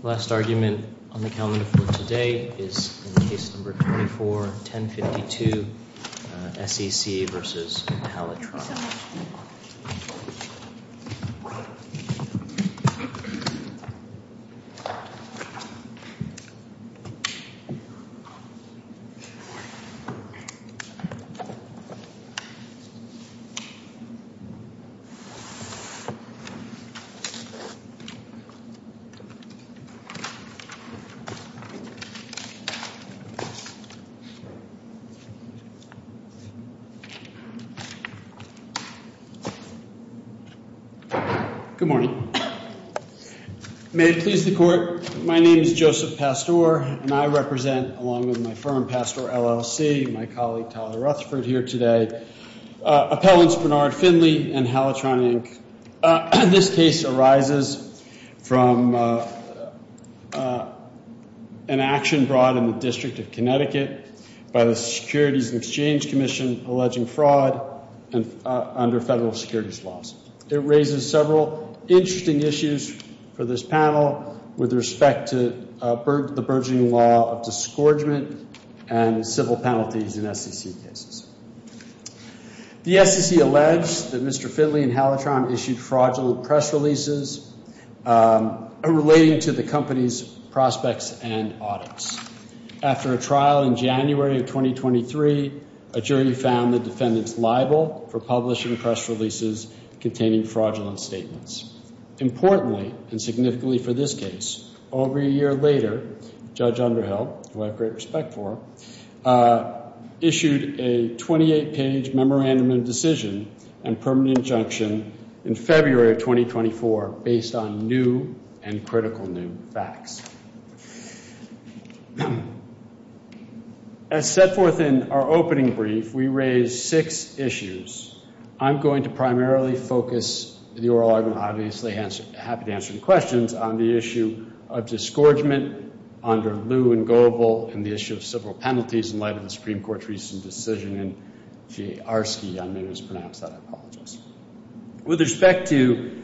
The last argument on the calendar for today is in Case No. 24-1052, SEC v. Alitron. Good morning. May it please the Court, my name is Joseph Pastore, and I represent, along with my firm, Pastore LLC, my colleague Tyler Rutherford here today, appellants Bernard Findley and Alitron Inc. This case arises from an action brought in the District of Connecticut by the Securities and Exchange Commission alleging fraud under federal securities laws. It raises several interesting issues for this panel with respect to the burgeoning law of disgorgement and civil penalties in SEC cases. The SEC alleged that Mr. Findley and Alitron issued fraudulent press releases relating to the company's prospects and audits. After a trial in January of 2023, a jury found the defendants liable for publishing press releases containing fraudulent statements. Importantly, and significantly for this case, over a year later, Judge Underhill, who I have great respect for, issued a 28-page memorandum of decision and permanent injunction in February of 2024 based on new and critical new facts. As set forth in our opening brief, we raise six issues. I'm going to primarily focus the oral argument, obviously happy to answer any questions, on the issue of disgorgement under Lew and Goebel and the issue of civil penalties in light of the Supreme Court's recent decision in J. Arske. I may have mispronounced that, I apologize. With respect to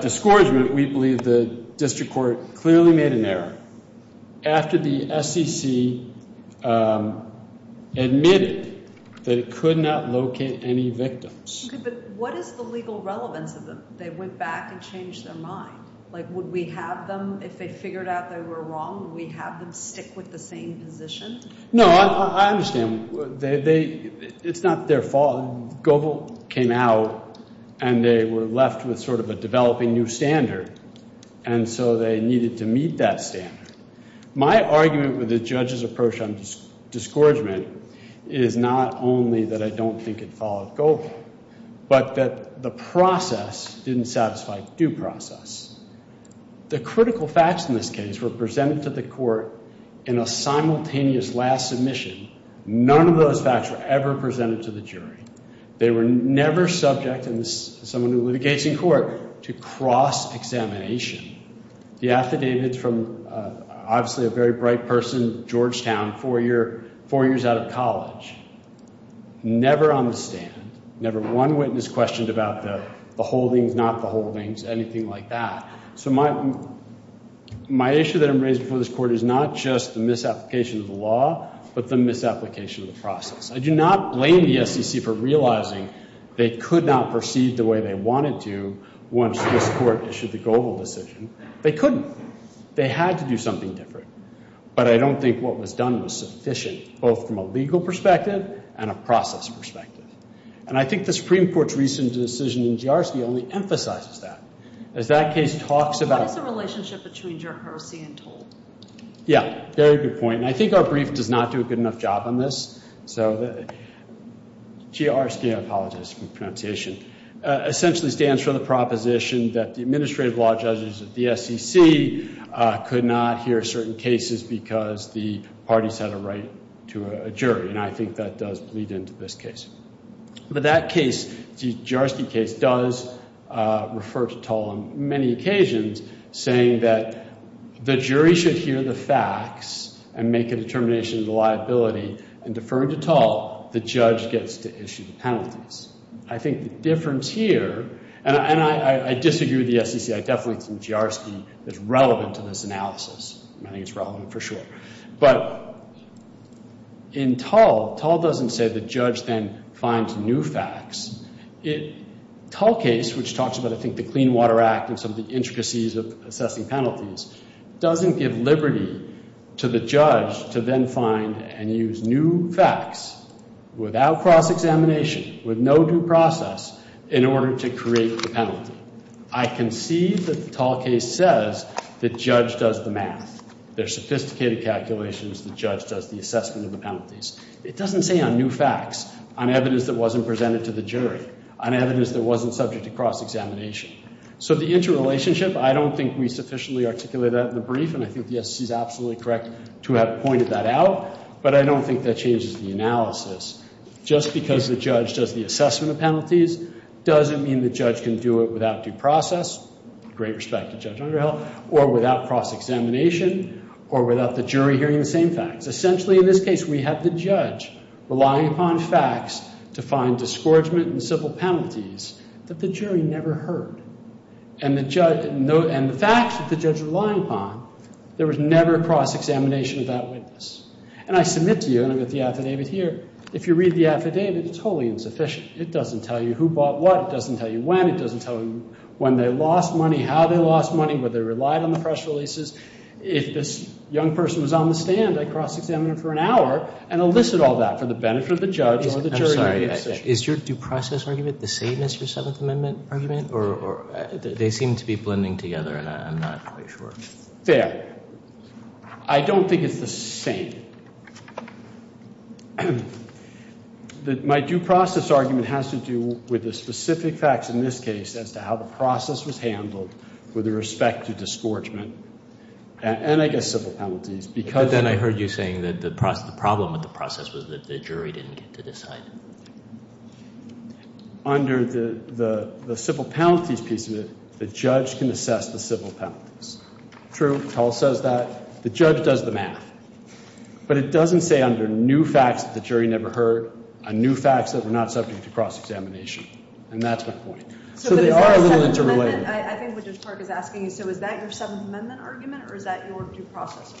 disgorgement, we believe the district court clearly made an error after the SEC admitted that it could not locate any victims. Okay, but what is the legal relevance of them? They went back and changed their mind. Like, would we have them if they figured out they were wrong? Would we have them stick with the same position? No, I understand. It's not their fault. Goebel came out, and they were left with sort of a developing new standard, and so they needed to meet that standard. My argument with the judge's approach on disgorgement is not only that I don't think it followed Goebel, but that the process didn't satisfy due process. The critical facts in this case were presented to the court in a simultaneous last submission. None of those facts were ever presented to the jury. They were never subject, and this is someone who litigates in court, to cross-examination. The affidavits from, obviously, a very bright person, Georgetown, four years out of college, never on the stand. Never one witness questioned about the holdings, not the holdings, anything like that. So my issue that I'm raising for this court is not just the misapplication of the law, but the misapplication of the process. I do not blame the SEC for realizing they could not perceive the way they wanted to once this court issued the Goebel decision. They couldn't. They had to do something different. But I don't think what was done was sufficient, both from a legal perspective and a process perspective. And I think the Supreme Court's recent decision in GRC only emphasizes that. As that case talks about- What is the relationship between Gerharcy and Toll? Yeah, very good point. And I think our brief does not do a good enough job on this. GRC, I apologize for the pronunciation, essentially stands for the proposition that the administrative law judges of the SEC could not hear certain cases because the parties had a right to a jury. And I think that does lead into this case. But that case, the Gerharcy case, does refer to Toll on many occasions, saying that the jury should hear the facts and make a determination of the liability. And deferring to Toll, the judge gets to issue the penalties. I think the difference here- and I disagree with the SEC. I definitely think Gerharcy is relevant to this analysis. I think it's relevant for sure. But in Toll, Toll doesn't say the judge then finds new facts. Toll case, which talks about, I think, the Clean Water Act and some of the intricacies of assessing penalties, doesn't give liberty to the judge to then find and use new facts without cross-examination, with no due process, in order to create the penalty. I concede that the Toll case says the judge does the math. There's sophisticated calculations. The judge does the assessment of the penalties. It doesn't say on new facts, on evidence that wasn't presented to the jury, on evidence that wasn't subject to cross-examination. So the interrelationship, I don't think we sufficiently articulate that in the brief, and I think the SEC is absolutely correct to have pointed that out. But I don't think that changes the analysis. Just because the judge does the assessment of penalties, doesn't mean the judge can do it without due process, great respect to Judge Underhill, or without cross-examination, or without the jury hearing the same facts. Essentially, in this case, we have the judge relying upon facts to find disgorgement and civil penalties that the jury never heard. And the facts that the judge relied upon, there was never cross-examination of that witness. And I submit to you, and I've got the affidavit here, if you read the affidavit, it's wholly insufficient. It doesn't tell you who bought what. It doesn't tell you when. It doesn't tell you when they lost money, how they lost money, whether they relied on the press releases. If this young person was on the stand, I'd cross-examine him for an hour and elicit all that for the benefit of the judge or the jury. I'm sorry. Is your due process argument the same as your Seventh Amendment argument? Or they seem to be blending together, and I'm not quite sure. Fair. I don't think it's the same. My due process argument has to do with the specific facts in this case as to how the process was handled with respect to disgorgement and, I guess, civil penalties. But then I heard you saying that the problem with the process was that the jury didn't get to decide. Under the civil penalties piece of it, the judge can assess the civil penalties. True. Tull says that. The judge does the math. But it doesn't say under new facts that the jury never heard on new facts that we're not subject to cross-examination. And that's my point. So they are a little interrelated. I think what Judge Clark is asking is, so is that your Seventh Amendment argument, or is that your due process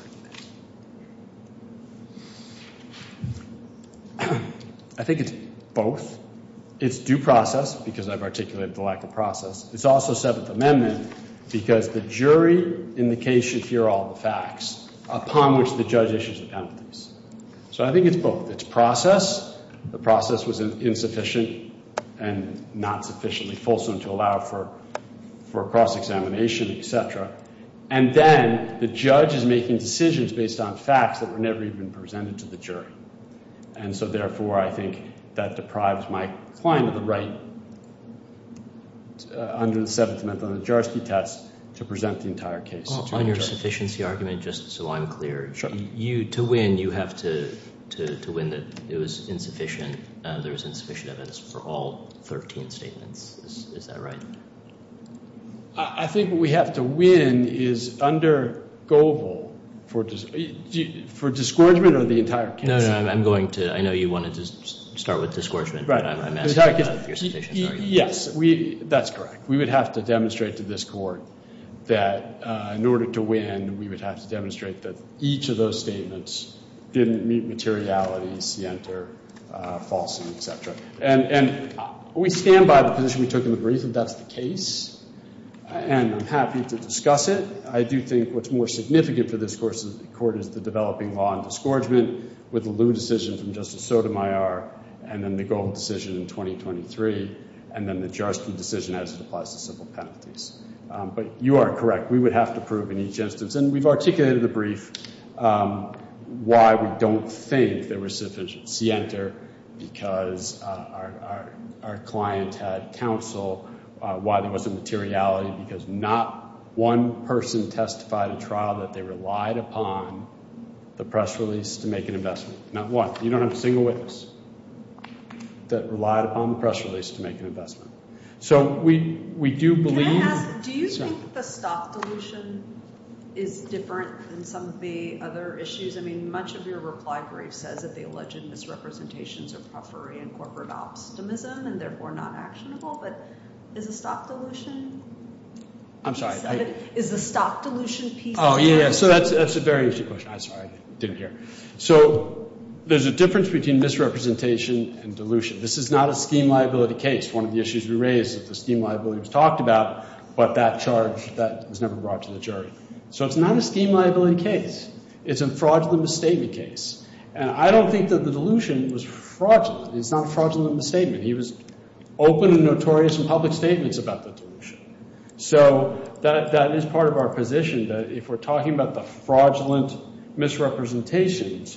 argument? I think it's both. It's due process because I've articulated the lack of process. It's also Seventh Amendment because the jury in the case should hear all the facts upon which the judge issues the penalties. So I think it's both. It's process. The process was insufficient and not sufficiently fulsome to allow for cross-examination, et cetera. And then the judge is making decisions based on facts that were never even presented to the jury. And so, therefore, I think that deprives my client of the right under the Seventh Amendment on a jurisprudence test to present the entire case. On your sufficiency argument, just so I'm clear, to win, you have to win that it was insufficient. There was insufficient evidence for all 13 statements. Is that right? I think what we have to win is under Goebel for disgorgement of the entire case. No, no, I'm going to. I know you wanted to start with disgorgement, but I'm asking about your sufficiency argument. Yes. That's correct. We would have to demonstrate to this court that in order to win, we would have to demonstrate that each of those statements didn't meet materiality, scienter, fulsome, et cetera. And we stand by the position we took in the brief, and that's the case. And I'm happy to discuss it. I do think what's more significant for this court is the developing law on disgorgement with the Lew decision from Justice Sotomayor and then the Gold decision in 2023 and then the Jarsky decision as it applies to civil penalties. But you are correct. And we've articulated in the brief why we don't think there was sufficient scienter, because our client had counsel, why there wasn't materiality, because not one person testified in trial that they relied upon the press release to make an investment. Not one. You don't have a single witness that relied upon the press release to make an investment. Can I ask, do you think the stock dilution is different than some of the other issues? I mean, much of your reply brief says that the alleged misrepresentations are periphery and corporate optimism and therefore not actionable. But is the stock dilution piece of that? Oh, yeah. So that's a very interesting question. I'm sorry. I didn't hear. So there's a difference between misrepresentation and dilution. This is not a scheme liability case. One of the issues we raised is the scheme liability was talked about, but that charge, that was never brought to the jury. So it's not a scheme liability case. It's a fraudulent misstatement case. And I don't think that the dilution was fraudulent. It's not a fraudulent misstatement. He was open and notorious in public statements about the dilution. So that is part of our position, that if we're talking about the fraudulent misrepresentations,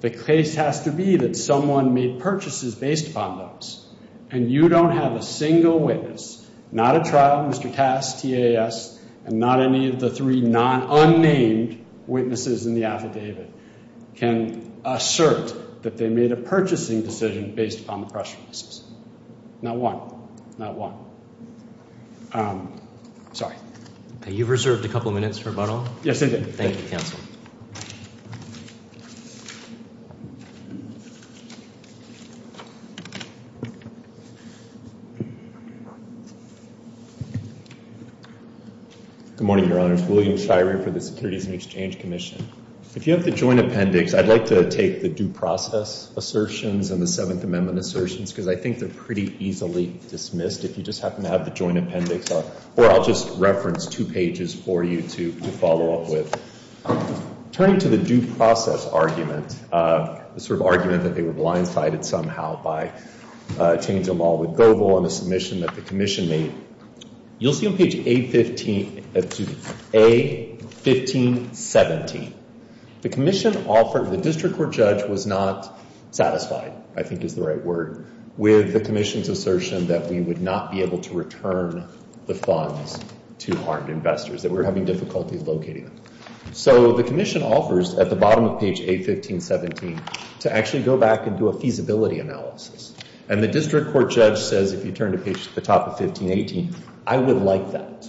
the case has to be that someone made purchases based upon those. And you don't have a single witness, not a trial, Mr. Cass, TAS, and not any of the three unnamed witnesses in the affidavit can assert that they made a purchasing decision based upon the press releases. Not one. Not one. Sorry. You've reserved a couple minutes for rebuttal. Yes, I did. Thank you, counsel. Good morning, Your Honors. William Shirey for the Securities and Exchange Commission. If you have the joint appendix, I'd like to take the due process assertions and the Seventh Amendment assertions, because I think they're pretty easily dismissed if you just happen to have the joint appendix. Or I'll just reference two pages for you to follow up with. Turning to the due process argument, the sort of argument that they were blindsided somehow by changing them all with Goebel and the submission that the commission made. You'll see on page A-15-17, the commission offered, the district court judge was not satisfied, I think is the right word, with the commission's assertion that we would not be able to return the funds to armed investors, that we were having difficulty locating them. So the commission offers, at the bottom of page A-15-17, to actually go back and do a feasibility analysis. And the district court judge says, if you turn to page, the top of 15-18, I would like that.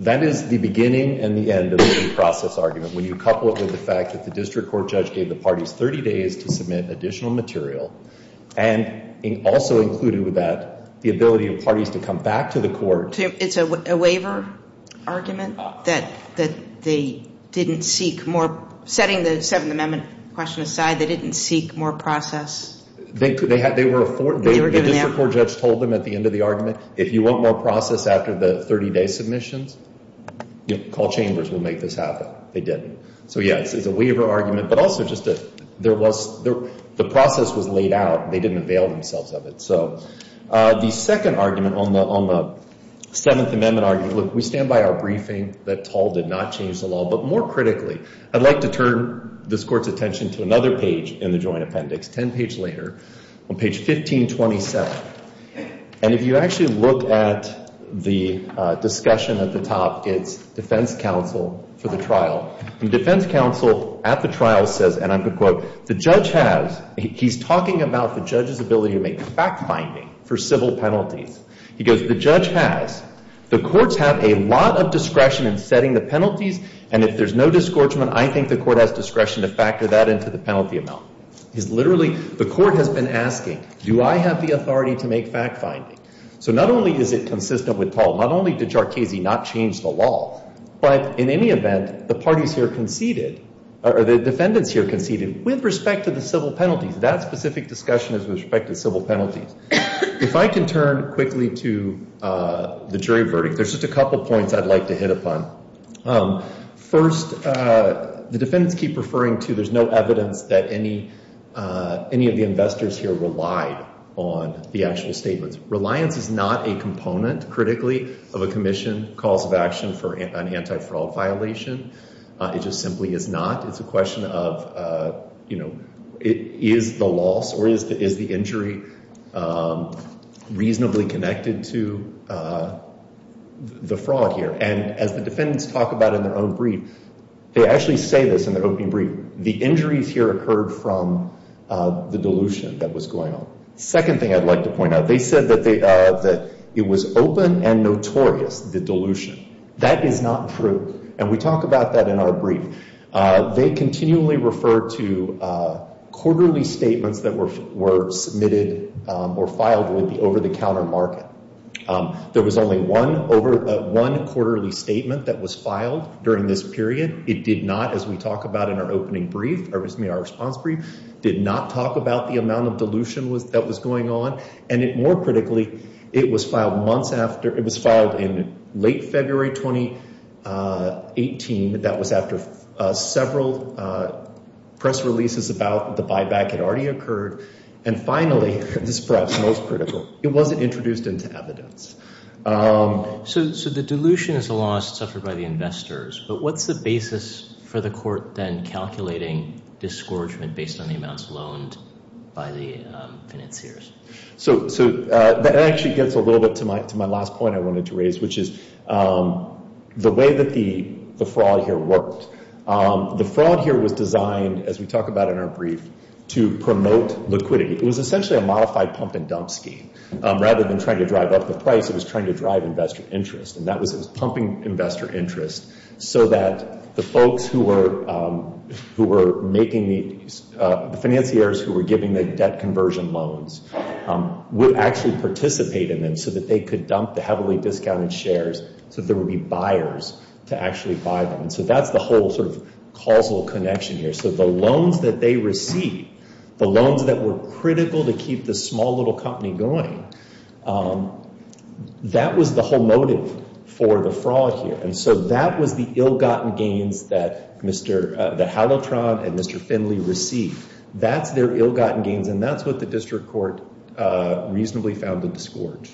That is the beginning and the end of the due process argument. When you couple it with the fact that the district court judge gave the parties 30 days to submit additional material, and also included with that the ability of parties to come back to the court. It's a waiver argument that they didn't seek more, setting the Seventh Amendment question aside, they didn't seek more process. They were afforded, the district court judge told them at the end of the argument, if you want more process after the 30-day submissions, call chambers, we'll make this happen. They didn't. So, yes, it's a waiver argument, but also just a, there was, the process was laid out. They didn't avail themselves of it. So, the second argument on the Seventh Amendment argument, look, we stand by our briefing that Toll did not change the law. But more critically, I'd like to turn this Court's attention to another page in the joint appendix, 10 pages later, on page 15-27. And if you actually look at the discussion at the top, it's defense counsel for the trial. And defense counsel at the trial says, and I'm going to quote, the judge has, he's talking about the judge's ability to make fact-finding for civil penalties. He goes, the judge has, the courts have a lot of discretion in setting the penalties, and if there's no disgorgement, I think the court has discretion to factor that into the penalty amount. He's literally, the court has been asking, do I have the authority to make fact-finding? So, not only is it consistent with Toll, not only did Jarchese not change the law, but in any event, the parties here conceded, or the defendants here conceded, with respect to the civil penalties. That specific discussion is with respect to civil penalties. If I can turn quickly to the jury verdict, there's just a couple points I'd like to hit upon. First, the defendants keep referring to there's no evidence that any of the investors here relied on the actual statements. Reliance is not a component, critically, of a commission calls of action for an anti-fraud violation. It just simply is not. It's a question of, you know, is the loss or is the injury reasonably connected to the fraud here? And as the defendants talk about in their own brief, they actually say this in their opening brief, the injuries here occurred from the dilution that was going on. Second thing I'd like to point out, they said that it was open and notorious, the dilution. That is not true, and we talk about that in our brief. They continually refer to quarterly statements that were submitted or filed with the over-the-counter market. There was only one quarterly statement that was filed during this period. It did not, as we talk about in our opening brief, or excuse me, our response brief, did not talk about the amount of dilution that was going on. And more critically, it was filed in late February 2018. That was after several press releases about the buyback had already occurred. And finally, this is perhaps most critical, it wasn't introduced into evidence. So the dilution is the loss suffered by the investors, but what's the basis for the court then calculating disgorgement based on the amounts loaned by the financiers? So that actually gets a little bit to my last point I wanted to raise, which is the way that the fraud here worked. The fraud here was designed, as we talk about in our brief, to promote liquidity. It was essentially a modified pump-and-dump scheme. Rather than trying to drive up the price, it was trying to drive investor interest. And that was pumping investor interest so that the folks who were making the, the financiers who were giving the debt conversion loans would actually participate in them so that they could dump the heavily discounted shares so that there would be buyers to actually buy them. So that's the whole sort of causal connection here. So the loans that they received, the loans that were critical to keep the small little company going, that was the whole motive for the fraud here. And so that was the ill-gotten gains that Mr. Halleltron and Mr. Finley received. That's their ill-gotten gains, and that's what the district court reasonably found the disgorge.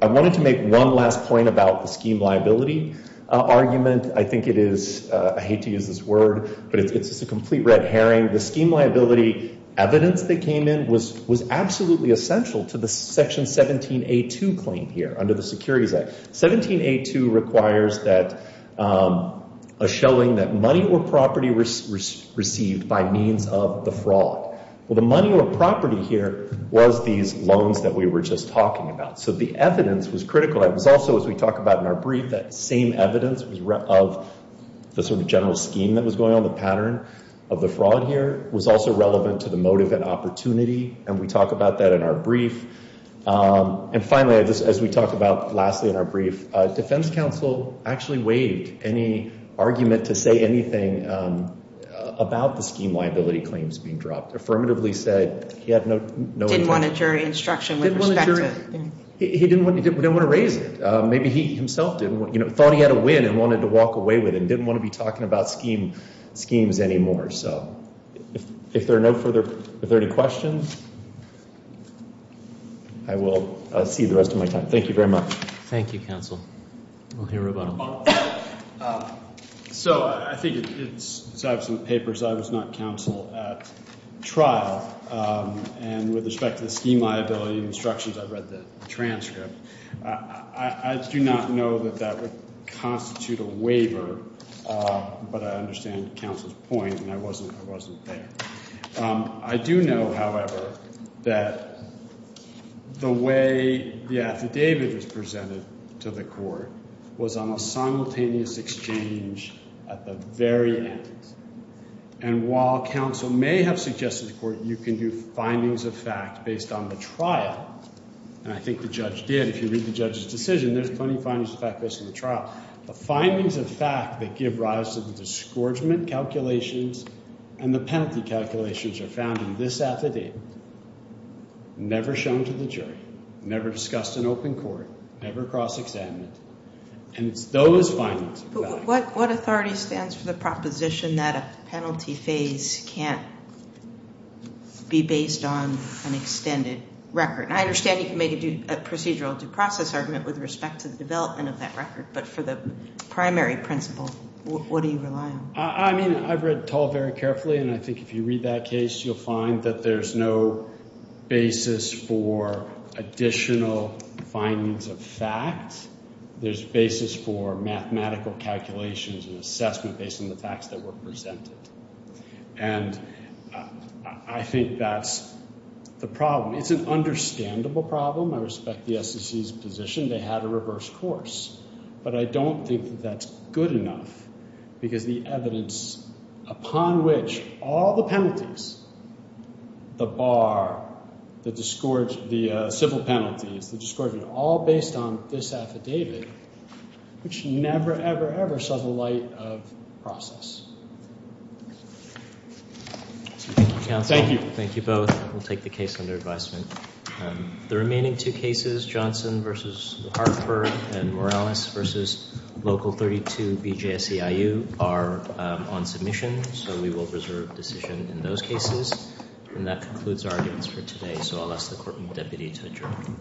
I wanted to make one last point about the scheme liability argument. I think it is, I hate to use this word, but it's just a complete red herring. The scheme liability evidence that came in was absolutely essential to the Section 17A2 claim here under the Securities Act. 17A2 requires a showing that money or property was received by means of the fraud. Well, the money or property here was these loans that we were just talking about. So the evidence was critical. It was also, as we talk about in our brief, that same evidence of the sort of general scheme that was going on, the pattern of the fraud here was also relevant to the motive and opportunity. And we talk about that in our brief. And finally, as we talk about lastly in our brief, defense counsel actually waived any argument to say anything about the scheme liability claims being dropped. Affirmatively said he had no intent. Didn't want a jury instruction with respect to it. He didn't want to raise it. Maybe he himself thought he had a win and wanted to walk away with it, and didn't want to be talking about schemes anymore. So if there are no further questions, I will see you the rest of my time. Thank you very much. Thank you, counsel. We'll hear about them. So I think, as I have some papers, I was not counsel at trial. And with respect to the scheme liability instructions, I've read the transcript. I do not know that that would constitute a waiver, but I understand counsel's point, and I wasn't there. I do know, however, that the way the affidavit was presented to the court was on a simultaneous exchange at the very end. And while counsel may have suggested to the court, you can do findings of fact based on the trial, and I think the judge did. If you read the judge's decision, there's plenty of findings of fact based on the trial. The findings of fact that give rise to the disgorgement calculations and the penalty calculations are found in this affidavit, never shown to the jury, never discussed in open court, never cross-examined, and it's those findings. What authority stands for the proposition that a penalty phase can't be based on an extended record? And I understand you can make a procedural due process argument with respect to the development of that record, but for the primary principle, what do you rely on? I mean, I've read Tull very carefully, and I think if you read that case, you'll find that there's no basis for additional findings of fact. There's basis for mathematical calculations and assessment based on the facts that were presented, and I think that's the problem. It's an understandable problem. I respect the SEC's position. They had a reverse course, but I don't think that that's good enough because the evidence upon which all the penalties, the bar, the civil penalties, the disgorgement, all based on this affidavit, which never, ever, ever saw the light of process. Thank you. Thank you both. We'll take the case under advisement. The remaining two cases, Johnson v. Hartford and Morales v. Local 32 BJSCIU, are on submission, so we will reserve decision in those cases. And that concludes our arguments for today, so I'll ask the court and deputy to adjourn.